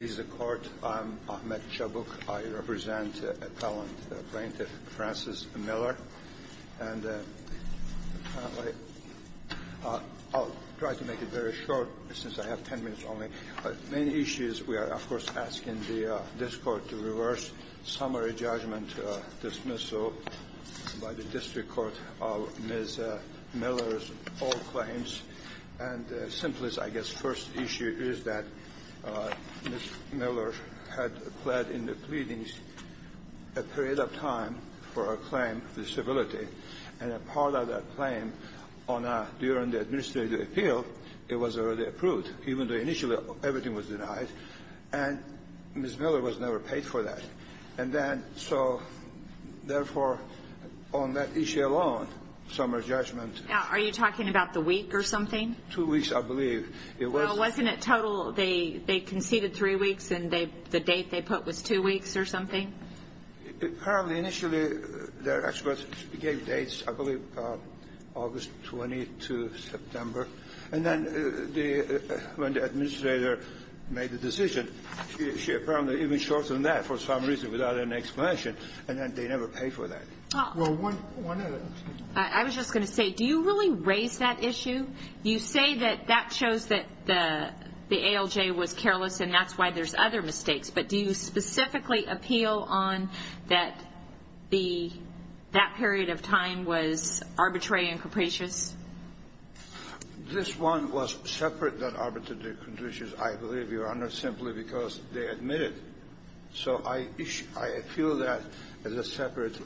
He's a court. I'm Ahmed Chabook. I represent a talented plaintiff, Frances Miller. And I'll try to make it very short, since I have ten minutes only. The main issue is we are, of course, asking this Court to reverse summary judgment dismissal by the district court of Ms. Miller's old claims. And the simplest, I guess, first issue is that Ms. Miller had pled in the pleadings a period of time for a claim for disability. And a part of that claim on a during the administrative appeal, it was already approved, even though initially everything was denied. And Ms. Miller was never paid for that. And then so therefore, on that issue alone, summary judgment Are you talking about the week or something? Two weeks, I believe. Well, wasn't it total? They conceded three weeks, and the date they put was two weeks or something? Apparently, initially, their experts gave dates, I believe, August 22, September. And then when the administrator made the decision, she apparently even shortened that for some reason without an explanation. And then they never paid for that. Well, one other thing. I was just going to say, do you really raise that issue? You say that that shows that the ALJ was careless, and that's why there's other mistakes. But do you specifically appeal on that that period of time was arbitrary and capricious? This one was separate than arbitrary and capricious, I believe, Your Honor, simply because they admitted. So I feel that as a separate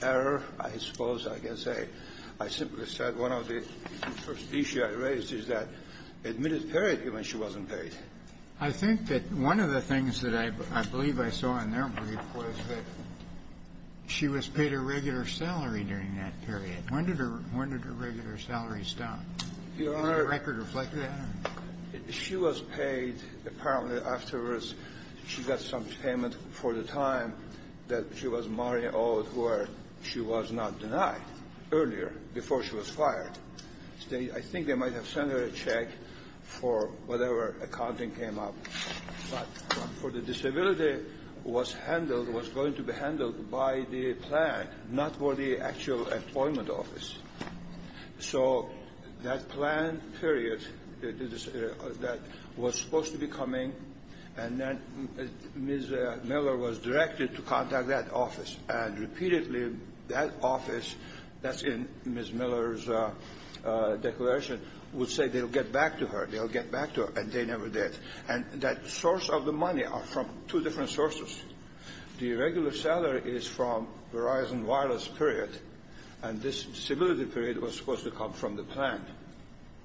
error, I suppose, I guess, I simply said one of the first issues I raised is that admitted period, even if she wasn't paid. I think that one of the things that I believe I saw in their brief was that she was paid a regular salary during that period. When did her regular salary stop? Your Honor, she was paid, apparently, afterwards. She got some payment for the time that she was married or she was not denied earlier, before she was fired. I think they might have sent her a check for whatever accounting came up, but for the disability was handled, was going to be handled by the plan, not for the actual employment office. So that plan period that was supposed to be coming, and then Ms. Miller was directed to contact that office. And repeatedly, that office, that's in Ms. Miller's declaration, would say they'll get back to her. They'll get back to her, and they never did. And that source of the money are from two different sources. The regular salary is from Verizon Wireless period, and this disability period was supposed to come from the plan.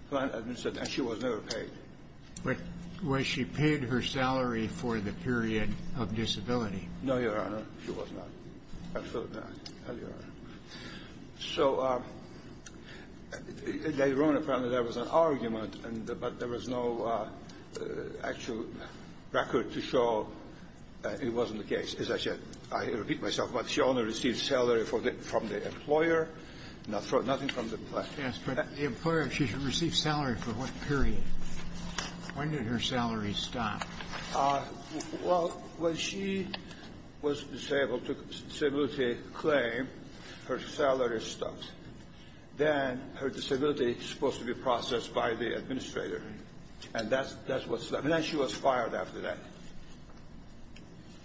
The plan administered, and she was never paid. Was she paid her salary for the period of disability? No, Your Honor, she was not, absolutely not, no, Your Honor. So they wrote, apparently, there was an argument, but there was no actual record to show it wasn't the case, as I said. I repeat myself, but she only received salary from the employer, nothing from the plan. Yes, but the employer, she received salary for what period? When did her salary stop? Well, when she was disabled, took disability claim, her salary stopped. Then her disability was supposed to be processed by the administrator, and that's what's left. And then she was fired after that.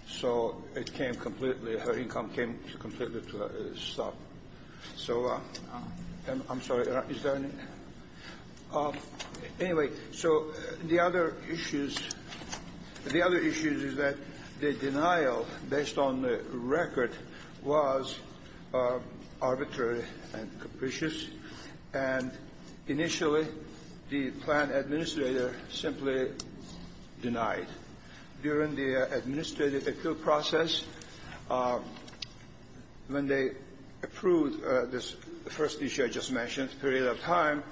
So it came completely, her income came completely to a stop. So I'm sorry, is there any? Anyway, so the other issues, the other issues is that the denial based on the record was arbitrary and capricious. And initially, the plan administrator simply denied. During the administrative appeal process, when they approved this first issue I just mentioned, period of time,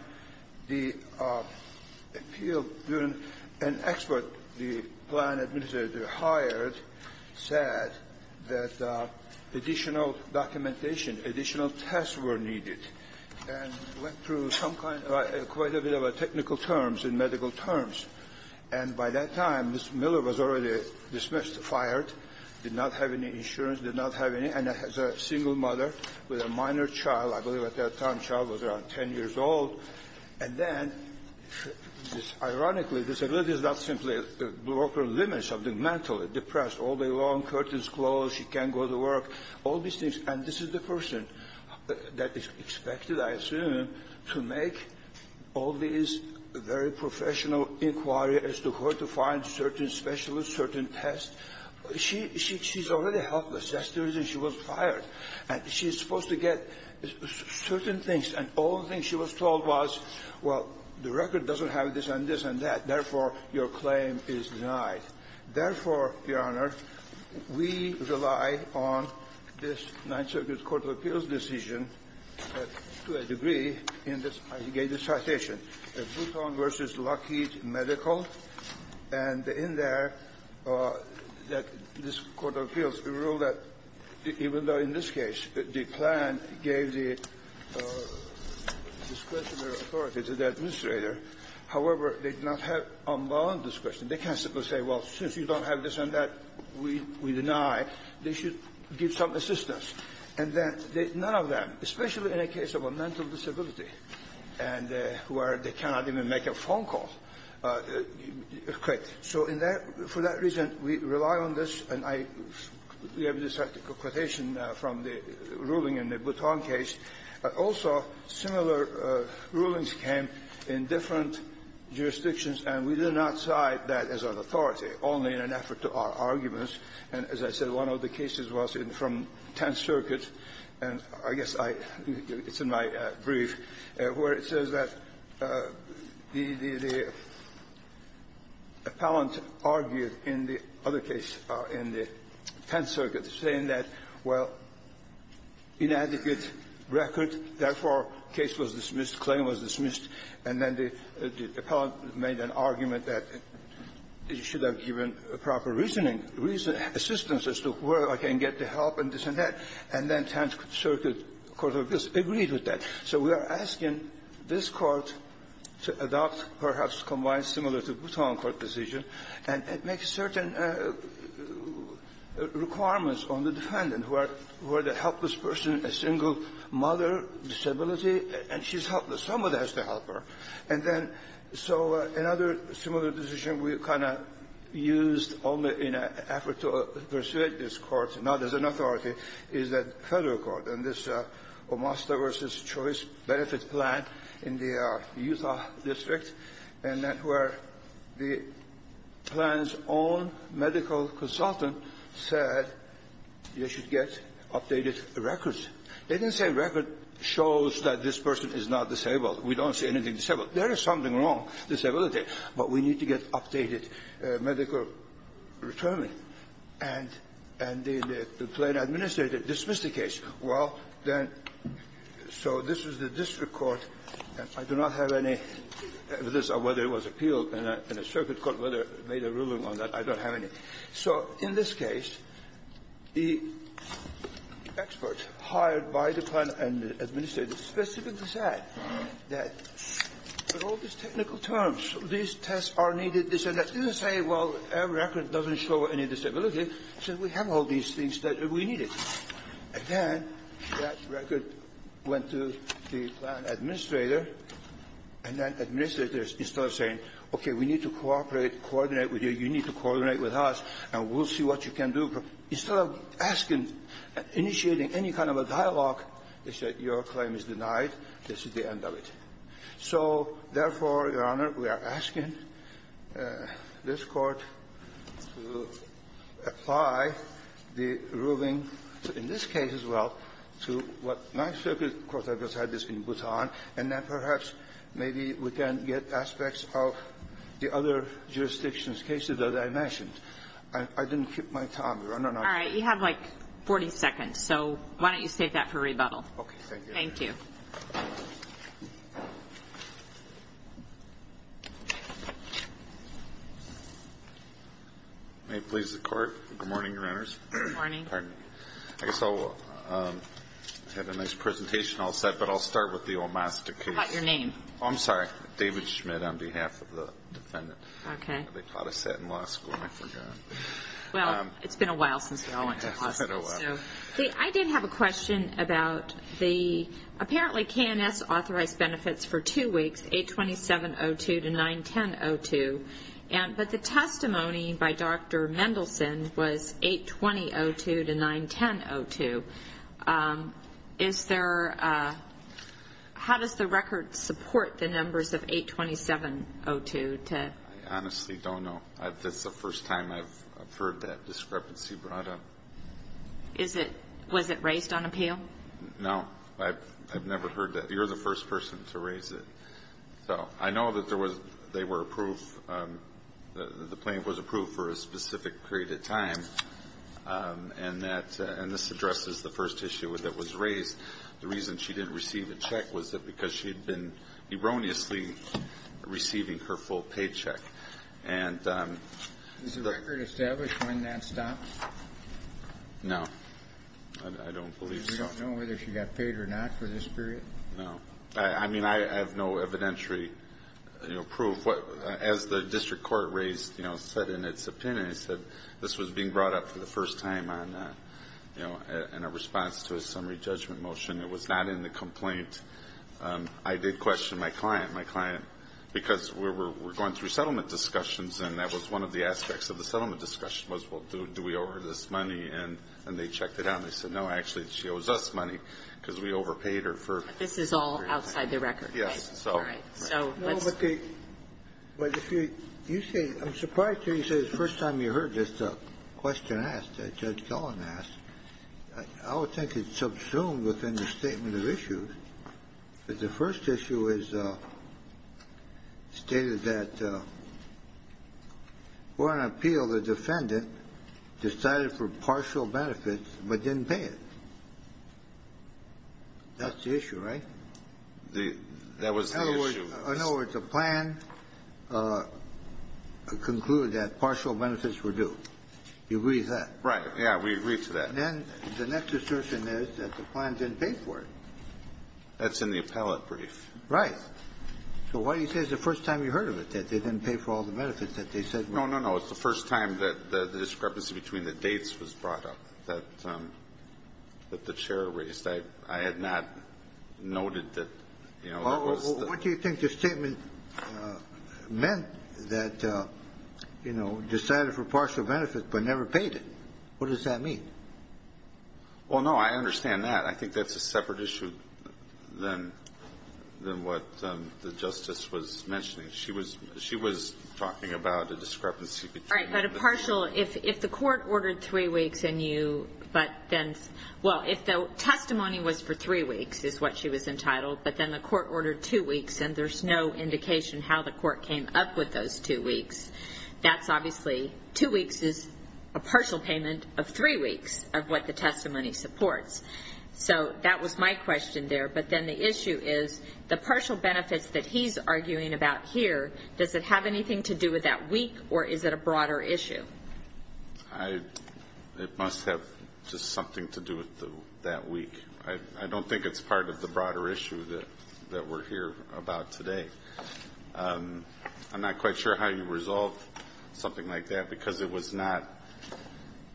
the appeal, an expert the plan administrator hired said that additional documentation, additional tests were needed and went through some kind of a quite a bit of a technical terms and medical terms. And by that time, Ms. Miller was already dismissed, fired, did not have any insurance, did not have any. And as a single mother with a minor child, I believe at that time the child was around 10 years old. And then, ironically, disability is not simply a broker limits of the mental, depressed all day long, curtains closed, she can't go to work, all these things. And this is the person that is expected, I assume, to make all these very professional inquiries as to where to find certain specialists, certain tests. She's already helpless. That's the reason she was fired. And she's supposed to get certain things. And all the things she was told was, well, the record doesn't have this and this and that. Therefore, your claim is denied. Therefore, your Honor, we rely on this Ninth Circuit Court of Appeals decision to a degree in this. I gave this citation, Bluton v. Lockheed Medical. And in there, that this Court of Appeals ruled that even though in this case the plan gave the discretionary authority to the administrator, however, they did not have unbound discretion. They can't simply say, well, since you don't have this and that, we deny, they should give some assistance. And then none of them, especially in a case of a mental disability and where they cannot even make a phone call, quit. So in that – for that reason, we rely on this, and I – we have this citation from the ruling in the Bluton case. Also, similar rulings came in different jurisdictions, and we did not cite that as an authority, only in an effort to argue this. And as I said, one of the cases was in – from Tenth Circuit, and I guess I – it's in my brief, where it says that the – the appellant argued in the other case, in the Bluton, inadequate record, therefore, case was dismissed, claim was dismissed. And then the – the appellant made an argument that he should have given proper reasoning – reason – assistance as to where I can get the help and this and that. And then Tenth Circuit Court of Appeals agreed with that. So we are asking this Court to adopt perhaps combined similar to Bluton court decision and make certain requirements on the defendant, where – where the helpless person, a single mother, disability, and she's helpless, someone has to help her. And then – so another similar decision we kind of used only in an effort to persuade this Court, not as an authority, is that Federal Court. And this Omasta v. Choice Benefit Plan in the Utah district, and that where the plan's own medical consultant said you should get updated records. They didn't say record shows that this person is not disabled. We don't say anything disabled. There is something wrong, disability, but we need to get updated medical return. And – and the plan administrator dismissed the case. Well, then – so this is the district court. I do not have any evidence of whether it was appealed in a – in a circuit court, made a ruling on that. I don't have any. So in this case, the expert hired by the plan and the administrator specifically said that with all these technical terms, these tests are needed. They said that didn't say, well, our record doesn't show any disability. It said we have all these things that we needed. And then that record went to the plan administrator, and that administrator is still saying, okay, we need to cooperate, coordinate with you, you need to coordinate with us, and we'll see what you can do. Instead of asking, initiating any kind of a dialogue, they said, your claim is denied. This is the end of it. So therefore, Your Honor, we are asking this Court to apply the ruling in this case as well to what my circuit court has decided is in Bhutan, and then perhaps maybe we can get aspects of the other jurisdictions' cases that I mentioned. I didn't keep my time, Your Honor. All right. You have, like, 40 seconds. So why don't you state that for rebuttal. Okay. Thank you. Thank you. May it please the Court. Good morning, Your Honors. Good morning. Pardon me. I guess I'll have a nice presentation all set, but I'll start with the Olmaster case. I forgot your name. Oh, I'm sorry. David Schmidt on behalf of the defendant. Okay. They taught us that in law school, and I forgot. Well, it's been a while since we all went to law school, so. I did have a question about the apparently K&S authorized benefits for two weeks, 827.02 to 910.02, but the testimony by Dr. Mendelson was 820.02 to 910.02. Is there, how does the record support the numbers of 827.02 to? I honestly don't know. That's the first time I've heard that discrepancy brought up. Is it, was it raised on appeal? No, I've never heard that. You're the first person to raise it. So, I know that there was, they were approved, the plan was approved for a specific period of time, and that, and this addresses the first issue that was raised. The reason she didn't receive a check was that because she had been erroneously receiving her full paycheck. And. Is the record established when that stopped? No, I don't believe so. You don't know whether she got paid or not for this period? No, I mean, I have no evidentiary proof. What, as the district court raised, you know, said in its opinion, it said, this was being brought up for the first time on, you know, in a response to a summary judgment motion. It was not in the complaint. I did question my client, my client, because we were going through settlement discussions, and that was one of the aspects of the settlement discussion was, well, do we owe her this money? And they checked it out, and they said, no, actually, she owes us money, because we overpaid her for. This is all outside the record. Yes. So. All right. So. No, but the, but if you, you say, I'm surprised to hear you say this is the first time you heard this question asked, that Judge Dolan asked. I would think it's subsumed within the statement of issues. The first issue is stated that, for an appeal, the defendant decided for partial benefits but didn't pay it. That's the issue, right? The, that was the issue. In other words, the plan concluded that partial benefits were due. You agree with that? Right. Yeah, we agree to that. Then the next assertion is that the plan didn't pay for it. That's in the appellate brief. Right. So why do you say it's the first time you heard of it, that they didn't pay for all the benefits that they said were due? No, no, no. It's the first time that the discrepancy between the dates was brought up, that, that the Chair raised. I, I had not noted that, you know, that was the. Well, what do you think the statement meant that, you know, decided for partial benefits but never paid it? What does that mean? Well, no, I understand that. I think that's a separate issue than, than what the Justice was mentioning. She was, she was talking about a discrepancy between. Right, but a partial, if, if the court ordered three weeks and you, but then, well, if the testimony was for three weeks is what she was entitled, but then the court ordered two weeks and there's no indication how the court came up with those two weeks, that's obviously, two weeks is a partial payment of three weeks of what the testimony supports. So, that was my question there, but then the issue is, the partial benefits that he's arguing about here, does it have anything to do with that week, or is it a broader issue? I, it must have just something to do with the, that week. I, I don't think it's part of the broader issue that, that we're here about today. I'm not quite sure how you resolved something like that because it was not,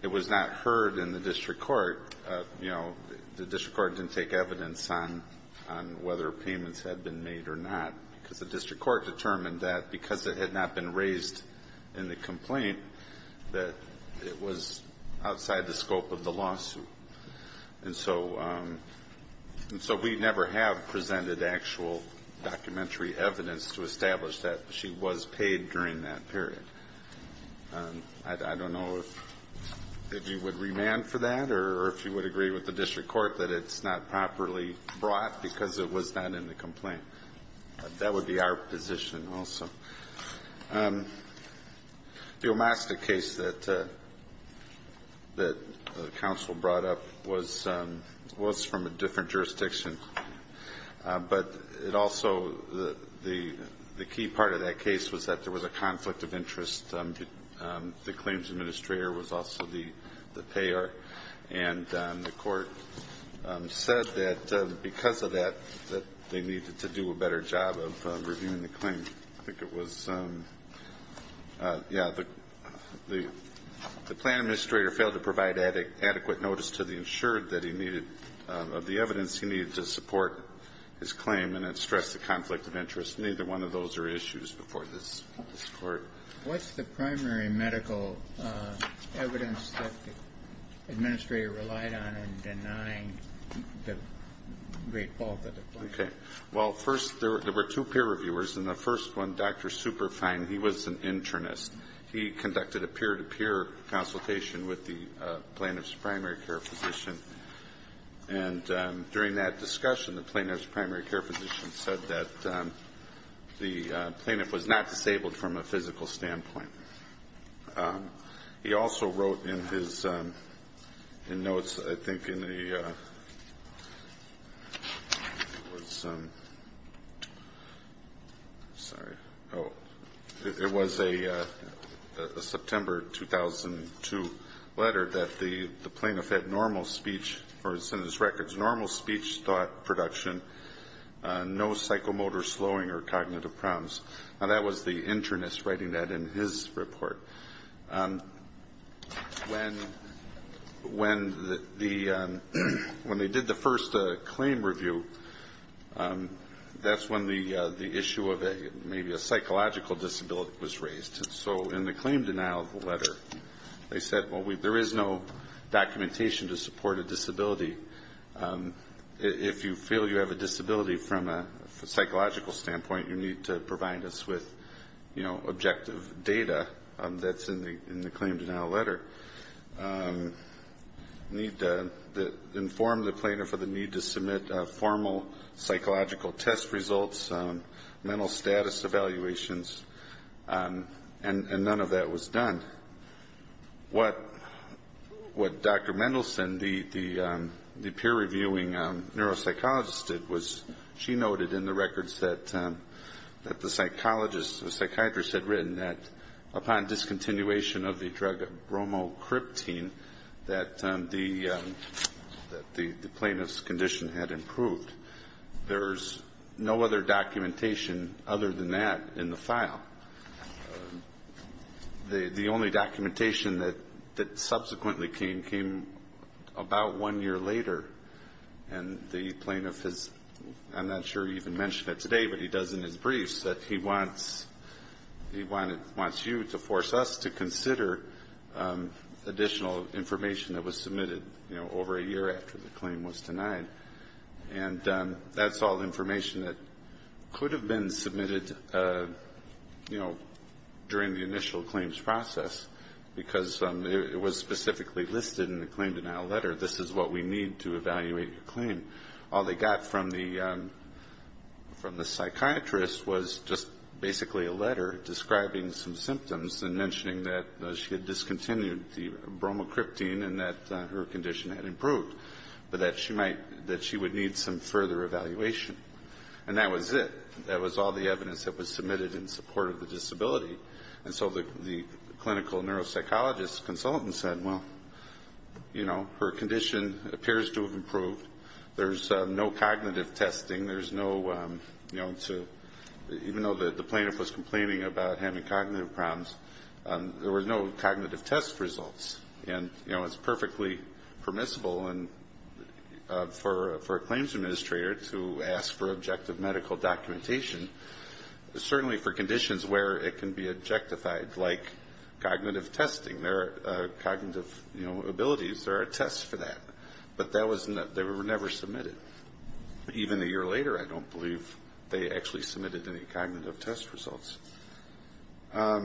it was not heard in the district court, you know, the district court didn't take evidence on, on whether payments had been made or not. Because the district court determined that because it had not been raised in the complaint, that it was outside the scope of the lawsuit. And so, and so we never have presented actual documentary evidence to establish that she was paid during that period. I, I don't know if, if you would remand for that, or if you would agree with the district court that it's not properly brought because it was not in the complaint. That would be our position also. The Omaska case that, that the council brought up was, was from a different jurisdiction. But it also, the, the, the key part of that case was that there was a conflict of interest. The claims administrator was also the, the payer. And the court said that because of that, that they needed to do a better job of reviewing the claim. I think it was yeah, the, the, the plan administrator failed to provide adequate notice to the insured that he needed of the evidence. He needed to support his claim and then stress the conflict of interest. Neither one of those are issues before this, this court. What's the primary medical evidence that the administrator relied on in denying the great fault of the plan? Okay. Well, first, there, there were two peer reviewers. And the first one, Dr. Superfine, he was an internist. He conducted a peer-to-peer consultation with the plaintiff's primary care physician. And during that discussion, the plaintiff's primary care physician said that the plaintiff was not disabled from a physical standpoint. He also wrote in his, in notes, I think, in the, it was, sorry. It was a September 2002 letter that the plaintiff had normal speech, or as in his records, normal speech, thought, production, no psychomotor slowing or cognitive problems. Now that was the internist writing that in his report. When, when the, when they did the first claim review. That's when the, the issue of a, maybe a psychological disability was raised. And so in the claim denial of the letter, they said, well, we, there is no documentation to support a disability. If you feel you have a disability from a psychological standpoint, you need to provide us with, you know, objective data that's in the, in the claim denial letter. Need to inform the plaintiff of the need to submit formal psychological test results, mental status evaluations, and, and none of that was done. What, what Dr. Mendelson, the, the, the peer reviewing neuropsychologist did was, she noted in the records that, that the psychologist, the psychiatrist had written that upon discontinuation of the drug bromocriptine, that the, that the, the plaintiff's condition had improved. There's no other documentation other than that in the file. The, the only documentation that, that subsequently came, came about one year later. And the plaintiff has, I'm not sure he even mentioned it today, but he does in his briefs, that he wants, he wanted, wants you to force us to consider additional information that was submitted, you know, over a year after the claim was denied. And that's all information that could have been submitted, you know, during the initial claims process, because it was specifically listed in the claim denial letter. All they got from the, from the psychiatrist was just basically a letter describing some symptoms and mentioning that she had discontinued the bromocriptine and that her condition had improved. But that she might, that she would need some further evaluation. And that was it. That was all the evidence that was submitted in support of the disability. And so the, the clinical neuropsychologist consultant said, well, you know, her condition appears to have improved. There's no cognitive testing. There's no, you know, to, even though the plaintiff was complaining about having cognitive problems, there were no cognitive test results. And, you know, it's perfectly permissible and for, for a claims administrator to ask for objective medical documentation, certainly for conditions where it can be objectified, like cognitive testing. There are cognitive, you know, abilities. There are tests for that. But that was not, they were never submitted. Even a year later, I don't believe they actually submitted any cognitive test results. Let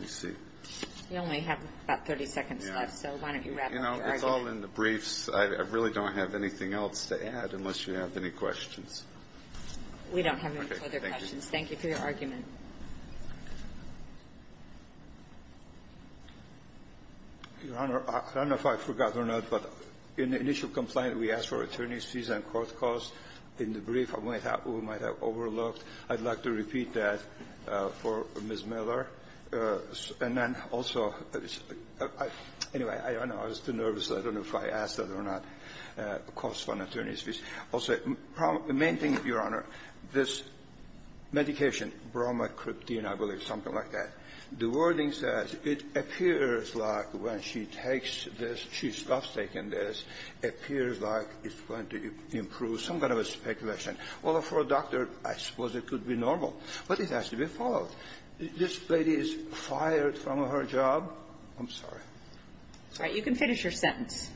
me see. You only have about 30 seconds left, so why don't you wrap up your argument? You know, it's all in the briefs. I really don't have anything else to add, unless you have any questions. We don't have any further questions. Thank you for your argument. Your Honor, I don't know if I forgot or not, but in the initial complaint, we asked for attorney's fees and court costs. In the brief, I might have overlooked. I'd like to repeat that for Ms. Miller. And then also, anyway, I don't know. I was too nervous. I don't know if I asked that or not, costs from attorney's fees. Also, the main thing, Your Honor, this medication, bromocriptine, I believe, something like that, the wording says it appears like when she takes this, she stops taking this, appears like it's going to improve some kind of a speculation. Well, for a doctor, I suppose it could be normal. But it has to be followed. This lady is fired from her job. I'm sorry. All right. You can finish your sentence.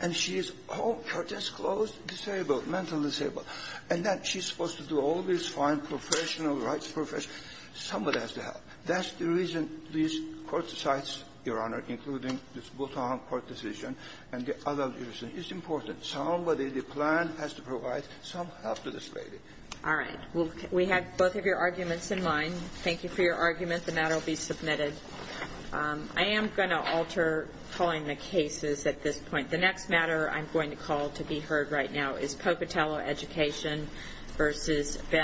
And she is home, curtains closed, disabled, mentally disabled. And then she's supposed to do all this fine professional rights profession. Somebody has to help. That's the reason this court decides, Your Honor, including this Bulton Court decision and the other reason. It's important. Somebody, the plan has to provide some help to this lady. All right. Well, we have both of your arguments in mind. Thank you for your argument. The matter will be submitted. I am going to alter calling the cases at this point. The next matter I'm going to call to be heard right now is Pocatello Education v. Ben.